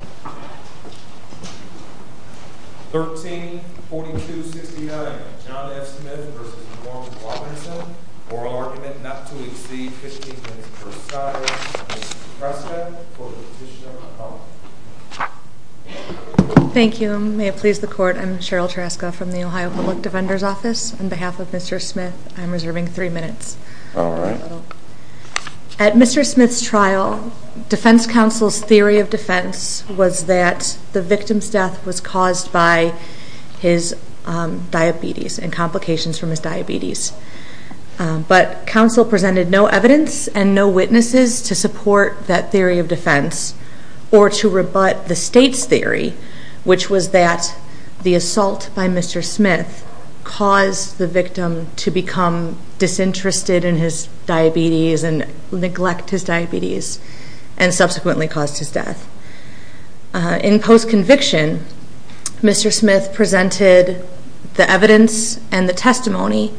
13.42.69 John F. Smith v. Norm Robinson Oral Argument Not to Exceed 15 Minutes Per Side Mr. Prescott for the Petition of the Public Thank you. May it please the Court, I'm Cheryl Taraska from the Ohio Public Defender's Office. On behalf of Mr. Smith, I'm reserving three minutes. Alright. At Mr. Smith's trial, defense counsel's theory of defense was that the victim's death was caused by his diabetes and complications from his diabetes. But counsel presented no evidence and no witnesses to support that theory of defense or to rebut the State's theory, which was that the assault by Mr. Smith caused the victim to become disinterested in his diabetes and neglect his diabetes and subsequently caused his death. In post-conviction, Mr. Smith presented the evidence and the testimony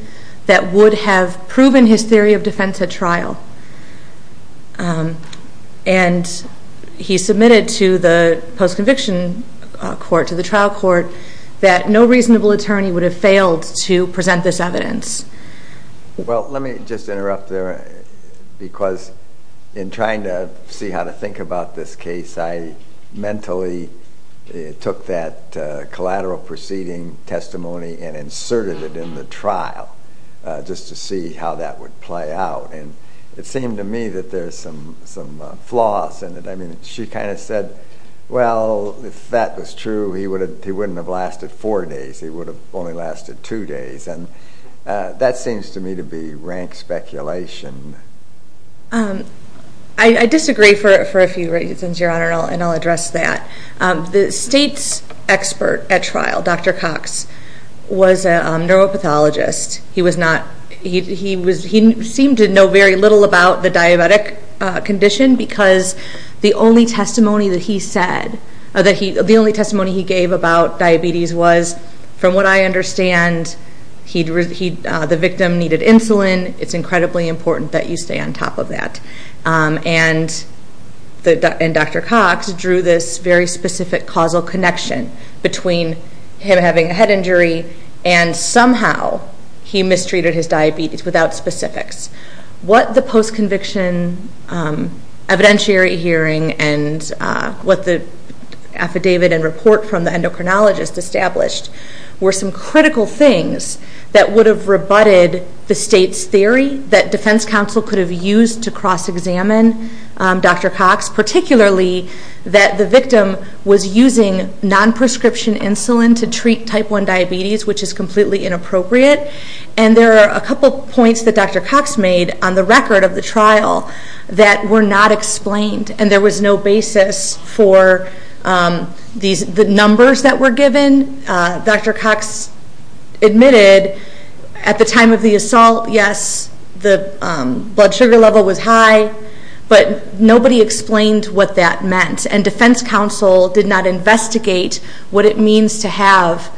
that would have proven his theory of defense at trial. And he submitted to the post-conviction court, to the trial court, that no reasonable attorney would have failed to present this evidence. Well, let me just interrupt there because in trying to see how to think about this case, I mentally took that collateral proceeding testimony and inserted it in the trial just to see how that would play out. And it seemed to me that there's some flaws in it. I mean, she kind of said, well, if that was true, he wouldn't have lasted four days. He would have only lasted two days. And that seems to me to be rank speculation. I disagree for a few reasons, Your Honor, and I'll address that. The State's expert at trial, Dr. Cox, was a neuropathologist. He seemed to know very little about the diabetic condition because the only testimony he gave about diabetes was, from what I understand, the victim needed insulin. It's incredibly important that you stay on top of that. And Dr. Cox drew this very specific causal connection between him having a head injury and somehow he mistreated his diabetes without specifics. What the post-conviction evidentiary hearing and what the affidavit and report from the endocrinologist established were some critical things that would have rebutted the State's theory that defense counsel could have used to cross-examine Dr. Cox, particularly that the victim was using non-prescription insulin to treat type 1 diabetes, which is completely inappropriate. And there are a couple points that Dr. Cox made on the record of the trial that were not explained. And there was no basis for the numbers that were given. Dr. Cox admitted at the time of the assault, yes, the blood sugar level was high, but nobody explained what that meant. And defense counsel did not investigate what it means to have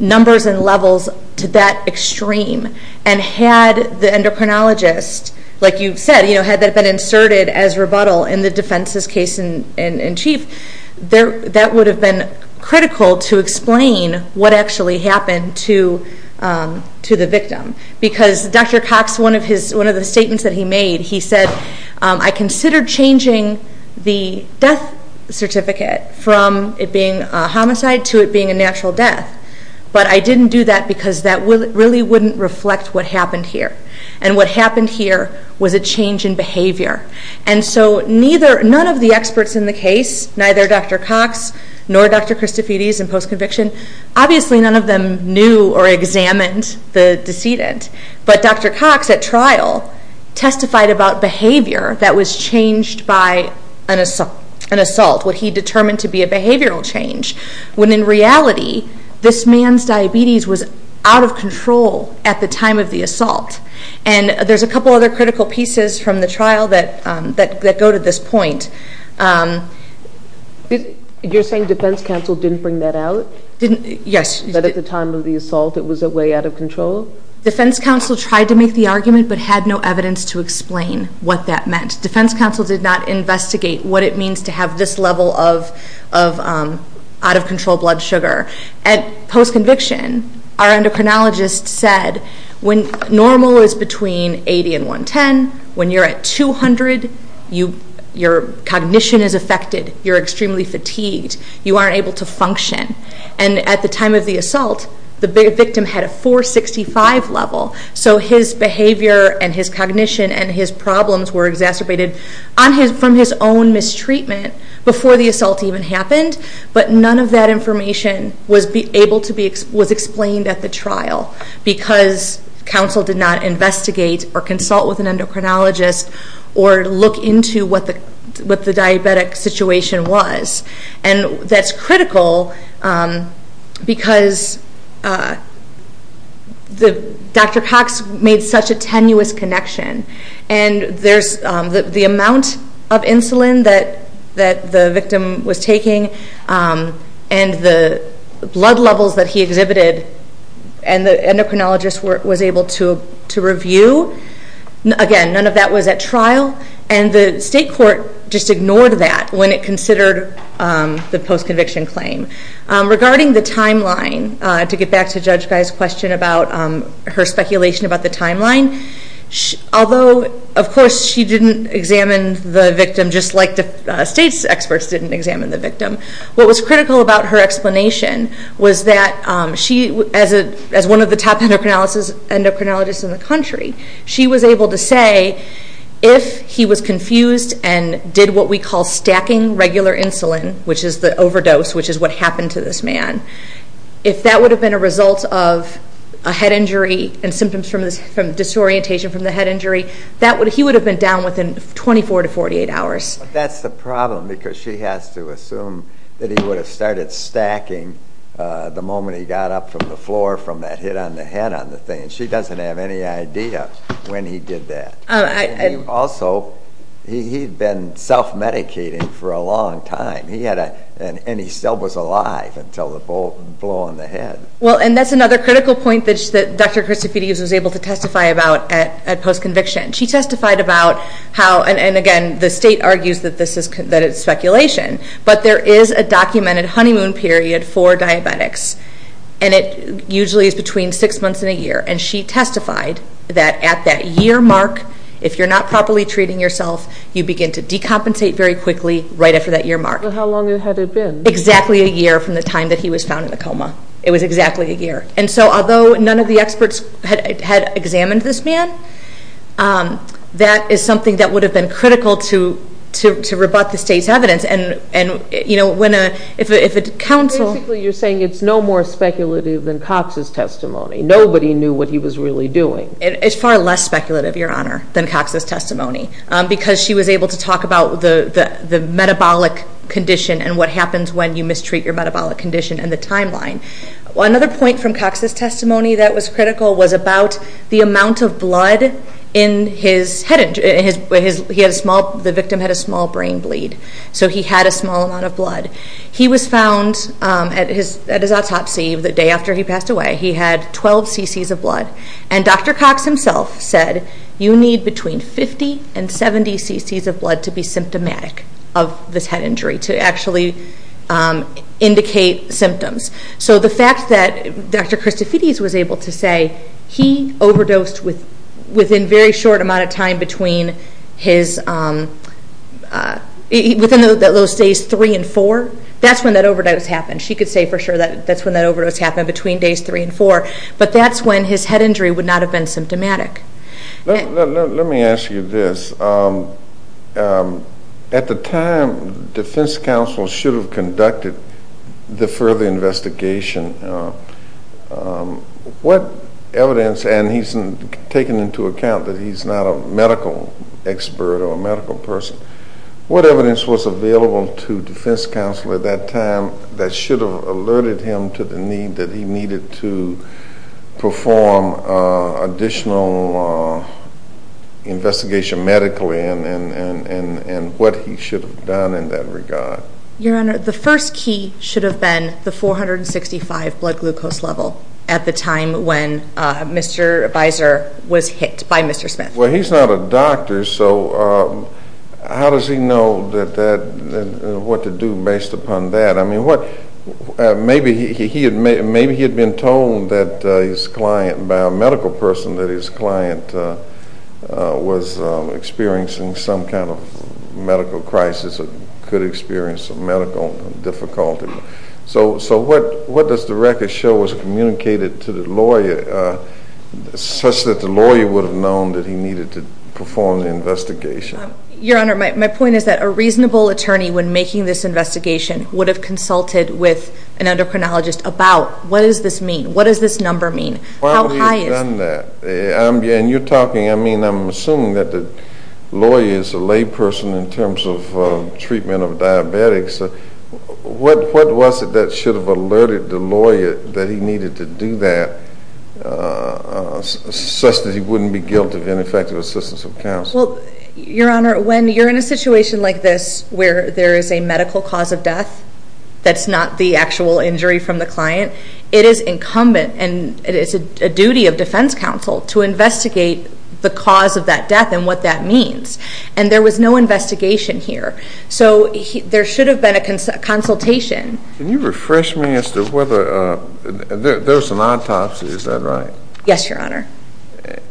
numbers and levels to that extreme. And had the endocrinologist, like you said, had that been inserted as rebuttal in the defense's case in chief, that would have been critical to explain what actually happened to the victim. Because Dr. Cox, one of the statements that he made, he said, I considered changing the death certificate from it being a homicide to it being a natural death. But I didn't do that because that really wouldn't reflect what happened here. And what happened here was a change in behavior. And so none of the experts in the case, neither Dr. Cox nor Dr. Christofides in post-conviction, obviously none of them knew or examined the decedent. But Dr. Cox at trial testified about behavior that was changed by an assault, what he determined to be a behavioral change, when in reality this man's diabetes was out of control at the time of the assault. And there's a couple other critical pieces from the trial that go to this point. You're saying defense counsel didn't bring that out? Yes. That at the time of the assault it was a way out of control? Defense counsel tried to make the argument but had no evidence to explain what that meant. Defense counsel did not investigate what it means to have this level of out-of-control blood sugar. At post-conviction, our endocrinologist said when normal is between 80 and 110, when you're at 200, your cognition is affected. You're extremely fatigued. You aren't able to function. And at the time of the assault, the victim had a 465 level. So his behavior and his cognition and his problems were exacerbated from his own mistreatment before the assault even happened. But none of that information was able to be explained at the trial because counsel did not investigate or consult with an endocrinologist or look into what the diabetic situation was. And that's critical because Dr. Cox made such a tenuous connection. And the amount of insulin that the victim was taking and the blood levels that he exhibited and the endocrinologist was able to review, again, none of that was at trial. And the state court just ignored that when it considered the post-conviction claim. Regarding the timeline, to get back to Judge Guy's question about her speculation about the timeline, although, of course, she didn't examine the victim just like the state's experts didn't examine the victim, what was critical about her explanation was that she, as one of the top endocrinologists in the country, she was able to say if he was confused and did what we call stacking regular insulin, which is the overdose, which is what happened to this man, if that would have been a result of a head injury and symptoms from disorientation from the head injury, he would have been down within 24 to 48 hours. That's the problem because she has to assume that he would have started stacking the moment he got up from the floor from that hit on the head on the thing. She doesn't have any idea when he did that. Also, he had been self-medicating for a long time, and he still was alive until the blow on the head. Well, and that's another critical point that Dr. Christofides was able to testify about at post-conviction. She testified about how, and again, the state argues that it's speculation, but there is a documented honeymoon period for diabetics, and it usually is between six months and a year. And she testified that at that year mark, if you're not properly treating yourself, you begin to decompensate very quickly right after that year mark. Well, how long had it been? Exactly a year from the time that he was found in a coma. It was exactly a year. And so although none of the experts had examined this man, that is something that would have been critical to rebut the state's evidence. Basically, you're saying it's no more speculative than Cox's testimony. Nobody knew what he was really doing. It's far less speculative, Your Honor, than Cox's testimony because she was able to talk about the metabolic condition and what happens when you mistreat your metabolic condition and the timeline. Another point from Cox's testimony that was critical was about the amount of blood in his head injury. The victim had a small brain bleed, so he had a small amount of blood. He was found at his autopsy the day after he passed away. He had 12 cc's of blood. And Dr. Cox himself said, you need between 50 and 70 cc's of blood to be symptomatic of this head injury, to actually indicate symptoms. So the fact that Dr. Christofides was able to say, he overdosed within a very short amount of time between those days 3 and 4, that's when that overdose happened. She could say for sure that's when that overdose happened, between days 3 and 4, but that's when his head injury would not have been symptomatic. Let me ask you this. At the time, defense counsel should have conducted the further investigation. What evidence, and he's taken into account that he's not a medical expert or a medical person, what evidence was available to defense counsel at that time that should have alerted him to the need that he needed to perform additional investigation medically and what he should have done in that regard? Your Honor, the first key should have been the 465 blood glucose level at the time when Mr. Visor was hit by Mr. Smith. Well, he's not a doctor, so how does he know what to do based upon that? I mean, maybe he had been told by a medical person that his client was experiencing some kind of medical crisis or could experience some medical difficulty. So what does the record show was communicated to the lawyer such that the lawyer would have known that he needed to perform the investigation? Your Honor, my point is that a reasonable attorney, when making this investigation, would have consulted with an endocrinologist about what does this mean, what does this number mean, how high is it? And you're talking, I mean, I'm assuming that the lawyer is a layperson in terms of treatment of diabetics. What was it that should have alerted the lawyer that he needed to do that such that he wouldn't be guilty of ineffective assistance of counsel? Your Honor, when you're in a situation like this where there is a medical cause of death that's not the actual injury from the client, it is incumbent and it is a duty of defense counsel to investigate the cause of that death and what that means. And there was no investigation here. So there should have been a consultation. Can you refresh me as to whether there was an autopsy, is that right? Yes, Your Honor.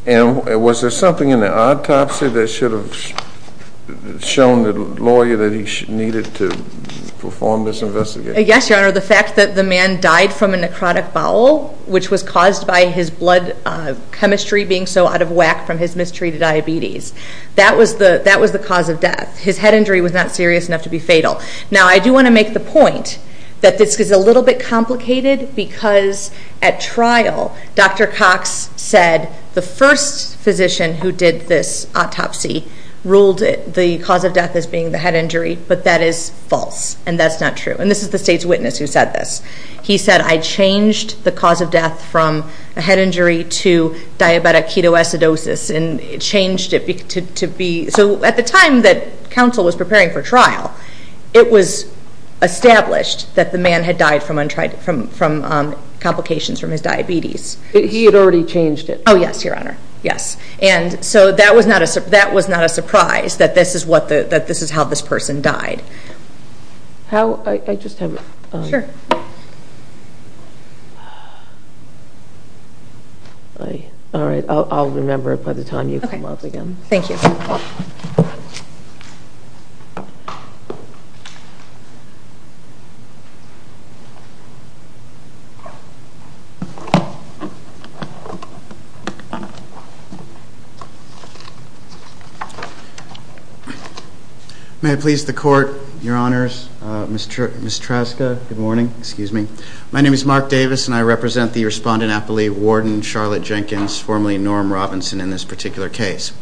And was there something in the autopsy that should have shown the lawyer that he needed to perform this investigation? Yes, Your Honor, the fact that the man died from a necrotic bowel, which was caused by his blood chemistry being so out of whack from his mistreated diabetes, that was the cause of death. His head injury was not serious enough to be fatal. Now, I do want to make the point that this is a little bit complicated because at trial, Dr. Cox said the first physician who did this autopsy ruled the cause of death as being the head injury, but that is false and that's not true. And this is the state's witness who said this. He said, I changed the cause of death from a head injury to diabetic ketoacidosis and changed it to be, so at the time that counsel was preparing for trial, it was established that the man had died from complications from his diabetes. He had already changed it? Oh, yes, Your Honor, yes. And so that was not a surprise that this is how this person died. How? I just have a... Sure. All right. I'll remember it by the time you come up again. Okay. Thank you. Thank you. May it please the Court, Your Honors, Ms. Traska, good morning, excuse me. My name is Mark Davis and I represent the respondent, I believe, Warden Charlotte Jenkins, formerly Norm Robinson, in this particular case.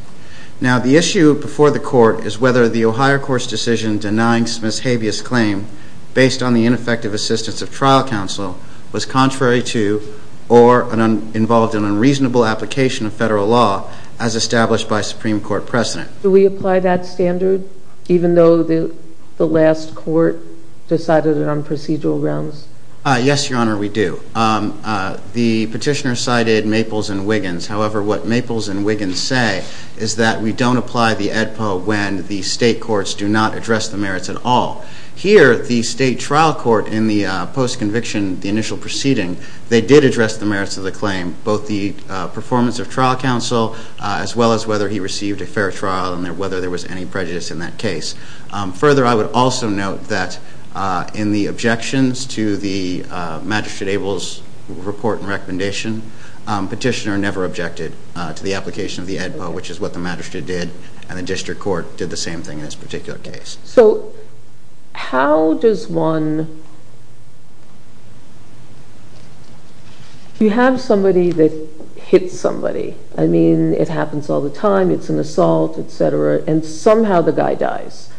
Now the issue before the Court is whether the Ohio Court's decision denying Smith's habeas claim based on the ineffective assistance of trial counsel was contrary to or involved in unreasonable application of federal law as established by Supreme Court precedent. Do we apply that standard even though the last court decided it on procedural grounds? Yes, Your Honor, we do. The petitioner cited Maples and Wiggins. However, what Maples and Wiggins say is that we don't apply the AEDPA when the state courts do not address the merits at all. Here, the state trial court in the post-conviction, the initial proceeding, they did address the merits of the claim, both the performance of trial counsel as well as whether he received a fair trial and whether there was any prejudice in that case. Further, I would also note that in the objections to the Magistrate Abel's report and recommendation, petitioner never objected to the application of the AEDPA, which is what the magistrate did and the district court did the same thing in this particular case. So how does one... You have somebody that hits somebody. I mean, it happens all the time. It's an assault, etc. And somehow the guy dies,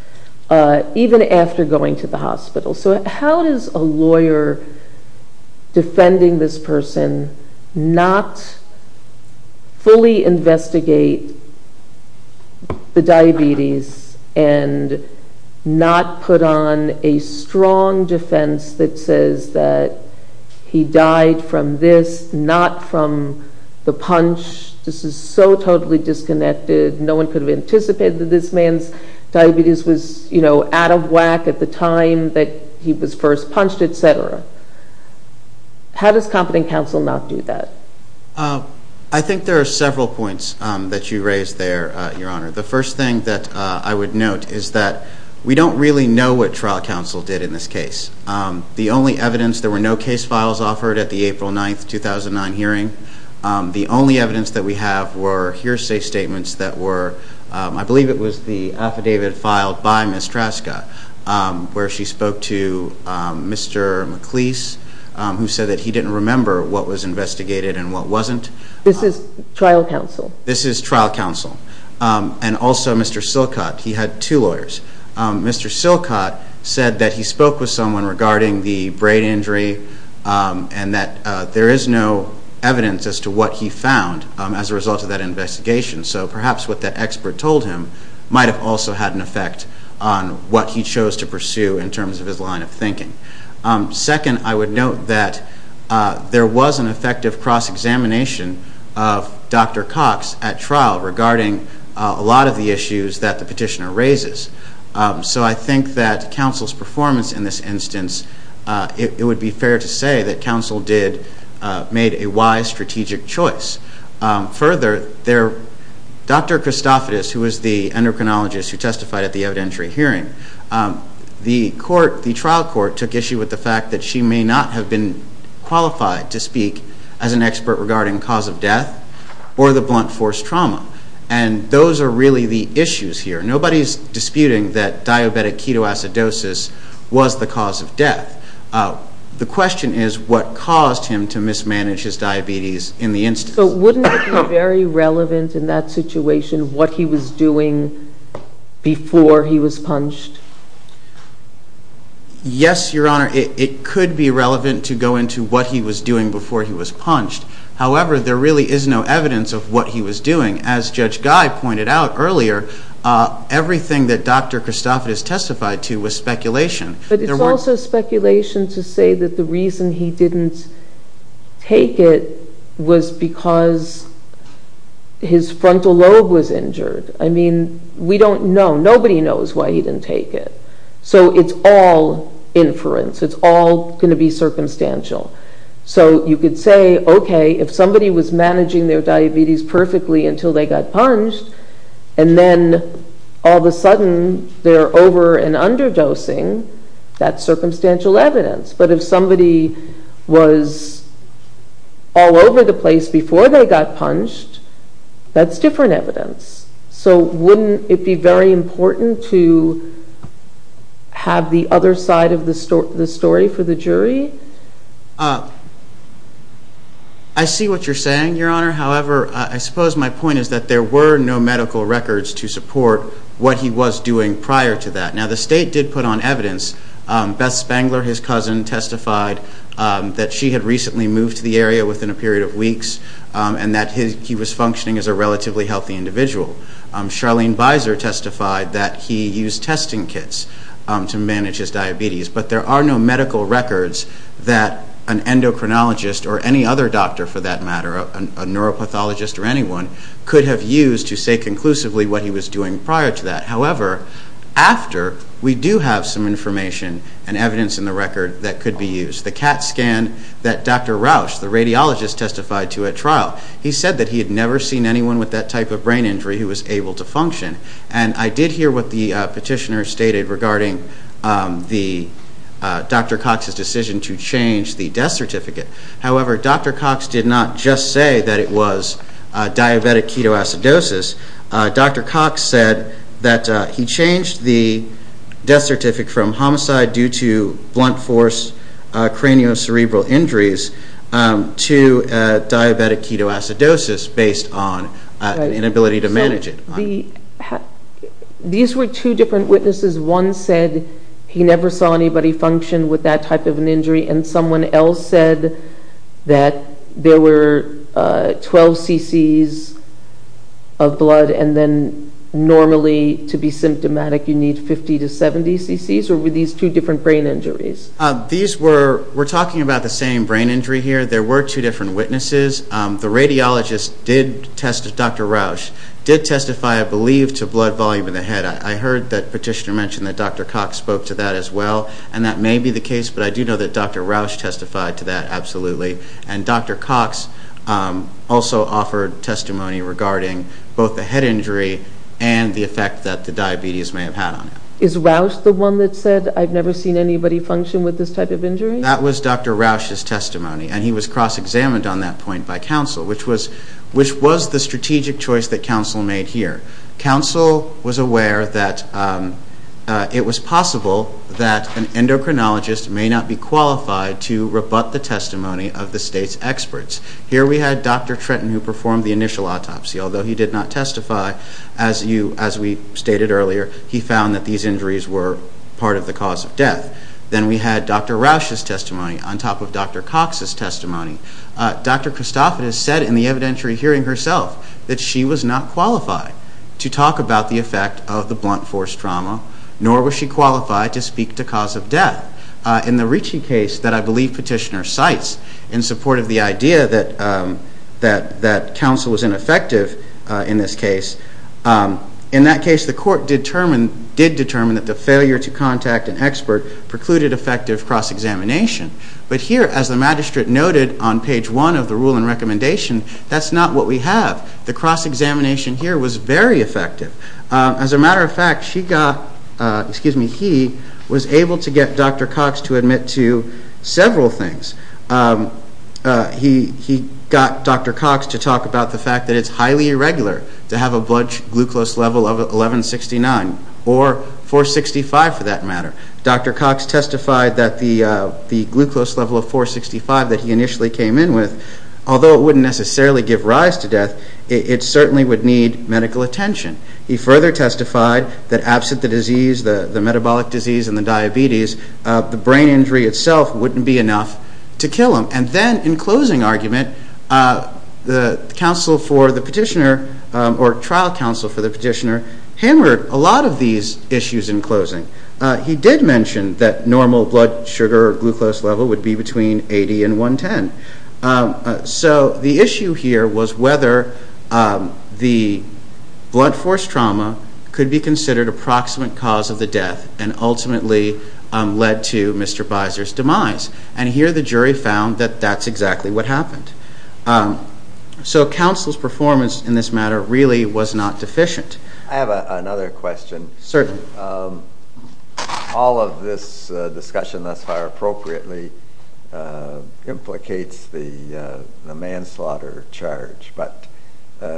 even after going to the hospital. So how does a lawyer defending this person not fully investigate the diabetes and not put on a strong defense that says that he died from this, not from the punch? This is so totally disconnected. No one could have anticipated that this man's diabetes was out of whack at the time that he was first punched, etc. How does competent counsel not do that? I think there are several points that you raised there, Your Honor. The first thing that I would note is that we don't really know what trial counsel did in this case. The only evidence, there were no case files offered at the April 9, 2009 hearing. The only evidence that we have were hearsay statements that were, I believe it was the affidavit filed by Ms. Traska, where she spoke to Mr. McLeese, who said that he didn't remember what was investigated and what wasn't. This is trial counsel? This is trial counsel. And also Mr. Silcott, he had two lawyers. Mr. Silcott said that he spoke with someone regarding the brain injury and that there is no evidence as to what he found as a result of that investigation. So perhaps what that expert told him might have also had an effect on what he chose to pursue in terms of his line of thinking. Second, I would note that there was an effective cross-examination of Dr. Cox at trial regarding a lot of the issues that the petitioner raises. So I think that counsel's performance in this instance, it would be fair to say that counsel made a wise strategic choice. Further, Dr. Christophides, who was the endocrinologist who testified at the evidentiary hearing, the trial court took issue with the fact that she may not have been qualified to speak as an expert regarding cause of death or the blunt force trauma. And those are really the issues here. Nobody is disputing that diabetic ketoacidosis was the cause of death. The question is what caused him to mismanage his diabetes in the instance. So wouldn't it be very relevant in that situation what he was doing before he was punched? Yes, Your Honor. It could be relevant to go into what he was doing before he was punched. However, there really is no evidence of what he was doing. As Judge Guy pointed out earlier, everything that Dr. Christophides testified to was speculation. But it's also speculation to say that the reason he didn't take it was because his frontal lobe was injured. I mean, we don't know. Nobody knows why he didn't take it. So it's all inference. It's all going to be circumstantial. So you could say, okay, if somebody was managing their diabetes perfectly until they got punched and then all of a sudden they're over and under dosing, that's circumstantial evidence. But if somebody was all over the place before they got punched, that's different evidence. So wouldn't it be very important to have the other side of the story for the jury? I see what you're saying, Your Honor. However, I suppose my point is that there were no medical records to support what he was doing prior to that. Now, the State did put on evidence. Beth Spangler, his cousin, testified that she had recently moved to the area within a period of weeks and that he was functioning as a relatively healthy individual. Charlene Beiser testified that he used testing kits to manage his diabetes. But there are no medical records that an endocrinologist or any other doctor, for that matter, a neuropathologist or anyone, could have used to say conclusively what he was doing prior to that. However, after, we do have some information and evidence in the record that could be used. The CAT scan that Dr. Rausch, the radiologist, testified to at trial, he said that he had never seen anyone with that type of brain injury who was able to function. And I did hear what the petitioner stated regarding Dr. Cox's decision to change the death certificate. However, Dr. Cox did not just say that it was diabetic ketoacidosis. Dr. Cox said that he changed the death certificate from homicide due to blunt force cranioscerebral injuries to diabetic ketoacidosis based on an inability to manage it. These were two different witnesses. One said he never saw anybody function with that type of an injury. And someone else said that there were 12 cc's of blood and then normally to be symptomatic you need 50 to 70 cc's? Or were these two different brain injuries? We're talking about the same brain injury here. There were two different witnesses. The radiologist, Dr. Rausch, did testify, I believe, to blood volume in the head. I heard that petitioner mention that Dr. Cox spoke to that as well. And that may be the case, but I do know that Dr. Rausch testified to that, absolutely. And Dr. Cox also offered testimony regarding both the head injury and the effect that the diabetes may have had on him. Is Rausch the one that said, I've never seen anybody function with this type of injury? That was Dr. Rausch's testimony. And he was cross-examined on that point by council, which was the strategic choice that council made here. Council was aware that it was possible that an endocrinologist may not be qualified to rebut the testimony of the state's experts. Here we had Dr. Trenton who performed the initial autopsy. Although he did not testify, as we stated earlier, he found that these injuries were part of the cause of death. Then we had Dr. Rausch's testimony on top of Dr. Cox's testimony. Dr. Christophidis said in the evidentiary hearing herself that she was not qualified to talk about the effect of the blunt force trauma, nor was she qualified to speak to cause of death. In the Ricci case that I believe petitioner cites in support of the idea that council was ineffective in this case, in that case the court did determine that the failure to contact an expert precluded effective cross-examination. But here, as the magistrate noted on page one of the rule and recommendation, that's not what we have. The cross-examination here was very effective. As a matter of fact, he was able to get Dr. Cox to admit to several things. He got Dr. Cox to talk about the fact that it's highly irregular to have a blood glucose level of 1169, or 465 for that matter. Dr. Cox testified that the glucose level of 465 that he initially came in with, although it wouldn't necessarily give rise to death, it certainly would need medical attention. He further testified that absent the disease, the metabolic disease and the diabetes, the brain injury itself wouldn't be enough to kill him. And then, in closing argument, the trial counsel for the petitioner hammered a lot of these issues in closing. He did mention that normal blood sugar or glucose level would be between 80 and 110. So the issue here was whether the blunt force trauma could be considered approximate cause of the death and ultimately led to Mr. Biser's demise. And here the jury found that that's exactly what happened. So counsel's performance in this matter really was not deficient. I have another question. Certainly. All of this discussion thus far appropriately implicates the manslaughter charge, but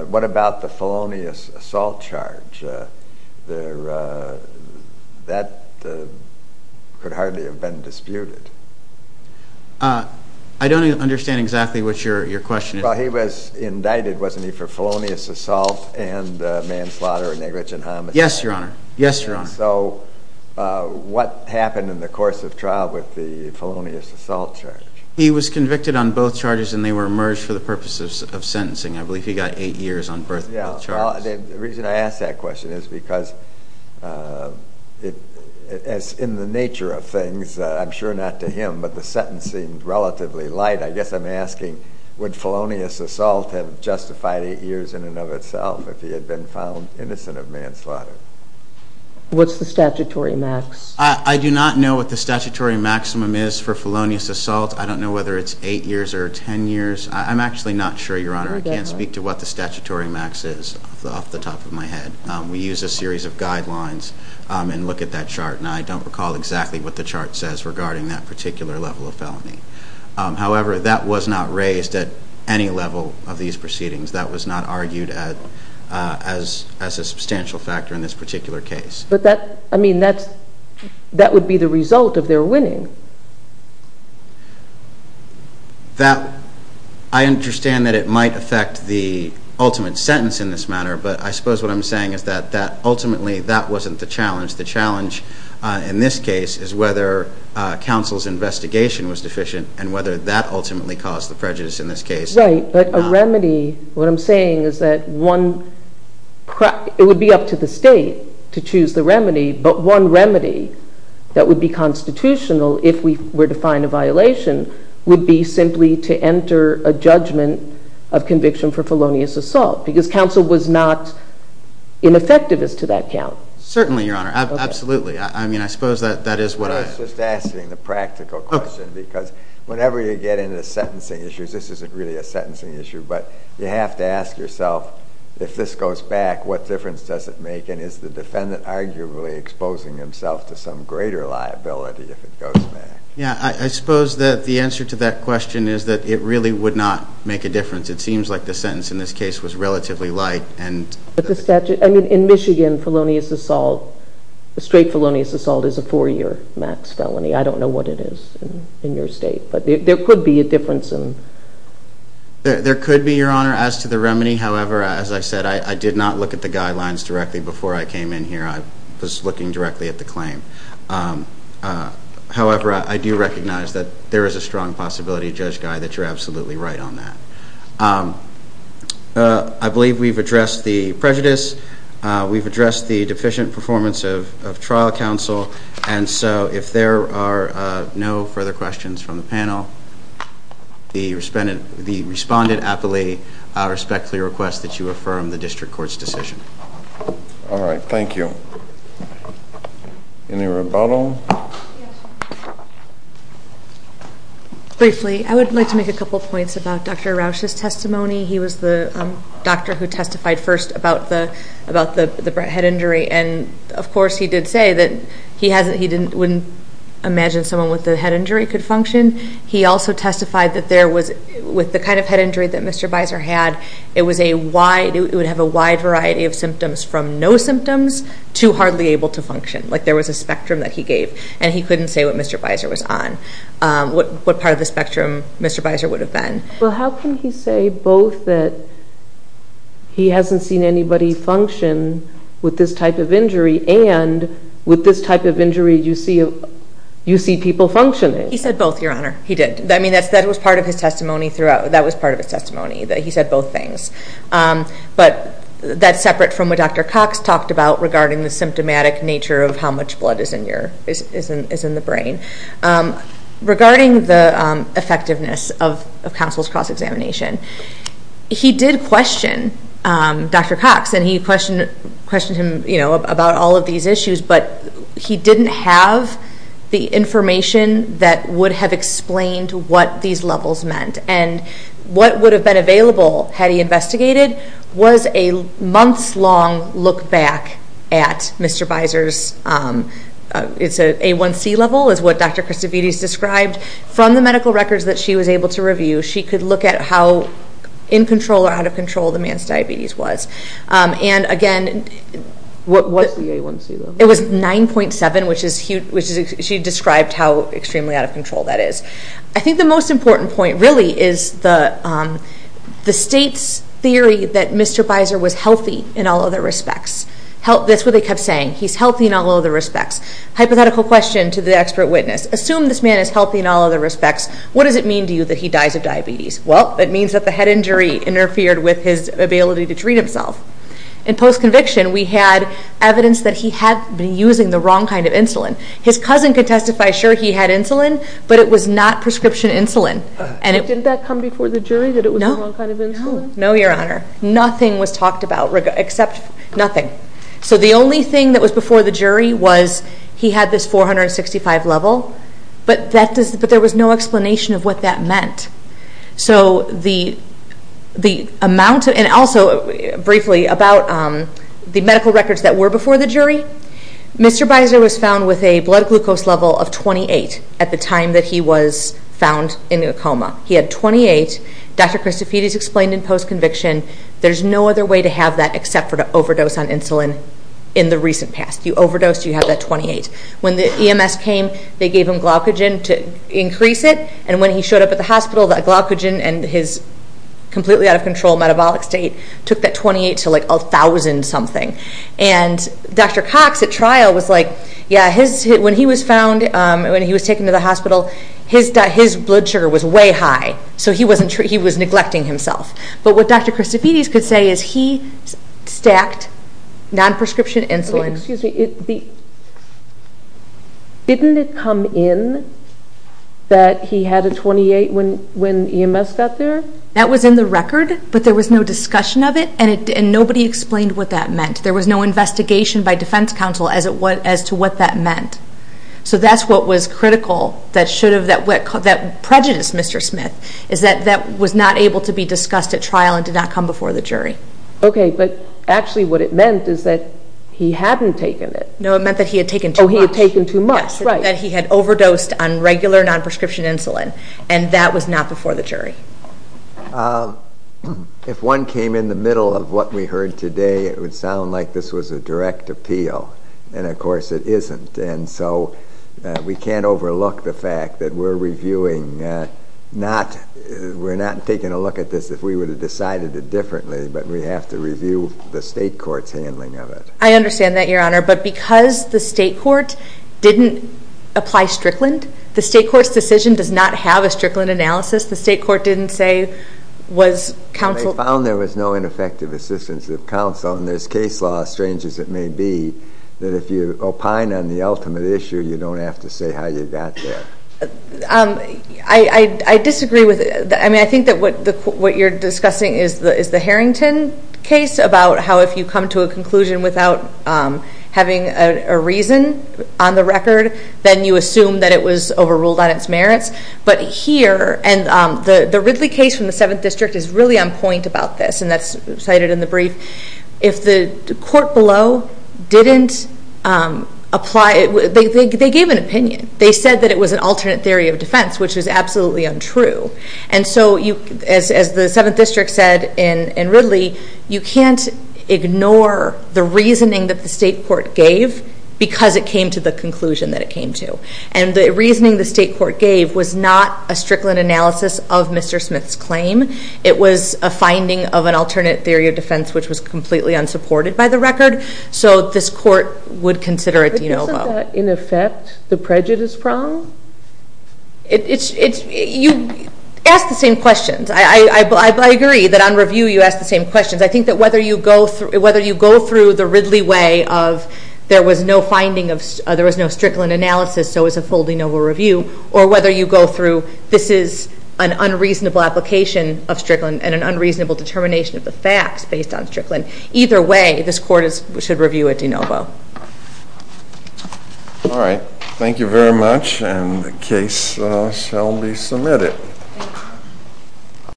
what about the felonious assault charge? That could hardly have been disputed. I don't understand exactly what your question is. Well, he was indicted, wasn't he, for felonious assault and manslaughter or negligent homicide? Yes, Your Honor. Yes, Your Honor. So what happened in the course of trial with the felonious assault charge? He was convicted on both charges and they were merged for the purpose of sentencing. I believe he got eight years on both charges. The reason I ask that question is because in the nature of things, I'm sure not to him, but the sentence seemed relatively light. I guess I'm asking would felonious assault have justified eight years in and of itself if he had been found innocent of manslaughter? What's the statutory max? I do not know what the statutory maximum is for felonious assault. I don't know whether it's eight years or ten years. I'm actually not sure, Your Honor. I can't speak to what the statutory max is off the top of my head. We use a series of guidelines and look at that chart, and I don't recall exactly what the chart says regarding that particular level of felony. However, that was not raised at any level of these proceedings. That was not argued as a substantial factor in this particular case. But that would be the result of their winning. I understand that it might affect the ultimate sentence in this matter, but I suppose what I'm saying is that ultimately that wasn't the challenge. The challenge in this case is whether counsel's investigation was deficient and whether that ultimately caused the prejudice in this case. Right, but a remedy, what I'm saying is that it would be up to the state to choose the remedy, but one remedy that would be constitutional if we were to find a violation would be simply to enter a judgment of conviction for felonious assault because counsel was not ineffective as to that count. Certainly, Your Honor. Absolutely. I mean, I suppose that is what I… I was just asking the practical question because whenever you get into sentencing issues, this isn't really a sentencing issue, but you have to ask yourself, if this goes back, what difference does it make, and is the defendant arguably exposing himself to some greater liability if it goes back? Yeah, I suppose that the answer to that question is that it really would not make a difference. It seems like the sentence in this case was relatively light and… But the statute… I mean, in Michigan, felonious assault, straight felonious assault is a four-year max felony. I don't know what it is in your state, but there could be a difference in… There could be, Your Honor, as to the remedy. However, as I said, I did not look at the guidelines directly before I came in here. I was looking directly at the claim. However, I do recognize that there is a strong possibility, Judge Guy, that you're absolutely right on that. I believe we've addressed the prejudice. We've addressed the deficient performance of trial counsel, and so if there are no further questions from the panel, the respondent aptly respectfully requests that you affirm the district court's decision. All right. Thank you. Any rebuttal? Briefly, I would like to make a couple points about Dr. Rauch's testimony. He was the doctor who testified first about the head injury, and of course he did say that he wouldn't imagine someone with a head injury could function. He also testified that with the kind of head injury that Mr. Biser had, it would have a wide variety of symptoms from no symptoms to hardly able to function. Like there was a spectrum that he gave, and he couldn't say what Mr. Biser was on, what part of the spectrum Mr. Biser would have been. Well, how can he say both that he hasn't seen anybody function with this type of injury and with this type of injury you see people functioning? He said both, Your Honor. He did. That was part of his testimony. He said both things. But that's separate from what Dr. Cox talked about regarding the symptomatic nature of how much blood is in the brain. Regarding the effectiveness of counsel's cross-examination, he did question Dr. Cox, and he questioned him about all of these issues, but he didn't have the information that would have explained what these levels meant. And what would have been available had he investigated was a months-long look back at Mr. Biser's A1C level, is what Dr. Christovides described. From the medical records that she was able to review, she could look at how in control or out of control the man's diabetes was. What was the A1C level? It was 9.7, which she described how extremely out of control that is. I think the most important point really is the state's theory that Mr. Biser was healthy in all other respects. That's what they kept saying. He's healthy in all other respects. Hypothetical question to the expert witness. Assume this man is healthy in all other respects. What does it mean to you that he dies of diabetes? Well, it means that the head injury interfered with his ability to treat himself. In post-conviction, we had evidence that he had been using the wrong kind of insulin. His cousin could testify, sure, he had insulin, but it was not prescription insulin. Didn't that come before the jury, that it was the wrong kind of insulin? No, Your Honor. Nothing was talked about except nothing. So the only thing that was before the jury was he had this 465 level, but there was no explanation of what that meant. So the amount, and also briefly about the medical records that were before the jury, Mr. Biser was found with a blood glucose level of 28 at the time that he was found in a coma. He had 28. Dr. Christofides explained in post-conviction, there's no other way to have that except for to overdose on insulin in the recent past. You overdose, you have that 28. When the EMS came, they gave him glycogen to increase it, and when he showed up at the hospital, that glycogen and his completely out of control metabolic state took that 28 to like 1,000 something. And Dr. Cox at trial was like, yeah, when he was found, when he was taken to the hospital, his blood sugar was way high, so he was neglecting himself. But what Dr. Christofides could say is he stacked non-prescription insulin. Okay, excuse me. Didn't it come in that he had a 28 when EMS got there? That was in the record, but there was no discussion of it, and nobody explained what that meant. There was no investigation by defense counsel as to what that meant. So that's what was critical that prejudiced Mr. Smith, is that that was not able to be discussed at trial and did not come before the jury. Okay, but actually what it meant is that he hadn't taken it. No, it meant that he had taken too much. Oh, he had taken too much, right. That he had overdosed on regular non-prescription insulin, and that was not before the jury. If one came in the middle of what we heard today, it would sound like this was a direct appeal, and of course it isn't, and so we can't overlook the fact that we're reviewing, we're not taking a look at this if we would have decided it differently, but we have to review the state court's handling of it. I understand that, Your Honor, but because the state court didn't apply Strickland, the state court's decision does not have a Strickland analysis. The state court didn't say, was counsel Well, they found there was no ineffective assistance of counsel, and there's case law, strange as it may be, that if you opine on the ultimate issue, you don't have to say how you got there. I disagree with it. I mean, I think that what you're discussing is the Harrington case about how if you come to a conclusion without having a reason on the record, then you assume that it was overruled on its merits, but here, and the Ridley case from the 7th District is really on point about this, and that's cited in the brief. If the court below didn't apply, they gave an opinion. They said that it was an alternate theory of defense, which is absolutely untrue, and so as the 7th District said in Ridley, you can't ignore the reasoning that the state court gave because it came to the conclusion that it came to, and the reasoning the state court gave was not a Strickland analysis of Mr. Smith's claim. It was a finding of an alternate theory of defense, which was completely unsupported by the record, so this court would consider it de novo. Is that, in effect, the prejudice problem? You ask the same questions. I agree that on review you ask the same questions. I think that whether you go through the Ridley way of there was no finding of, there was no Strickland analysis, so it was a full de novo review, or whether you go through this is an unreasonable application of Strickland and an unreasonable determination of the facts based on Strickland, either way, this court should review it de novo. All right. Thank you very much, and the case shall be submitted.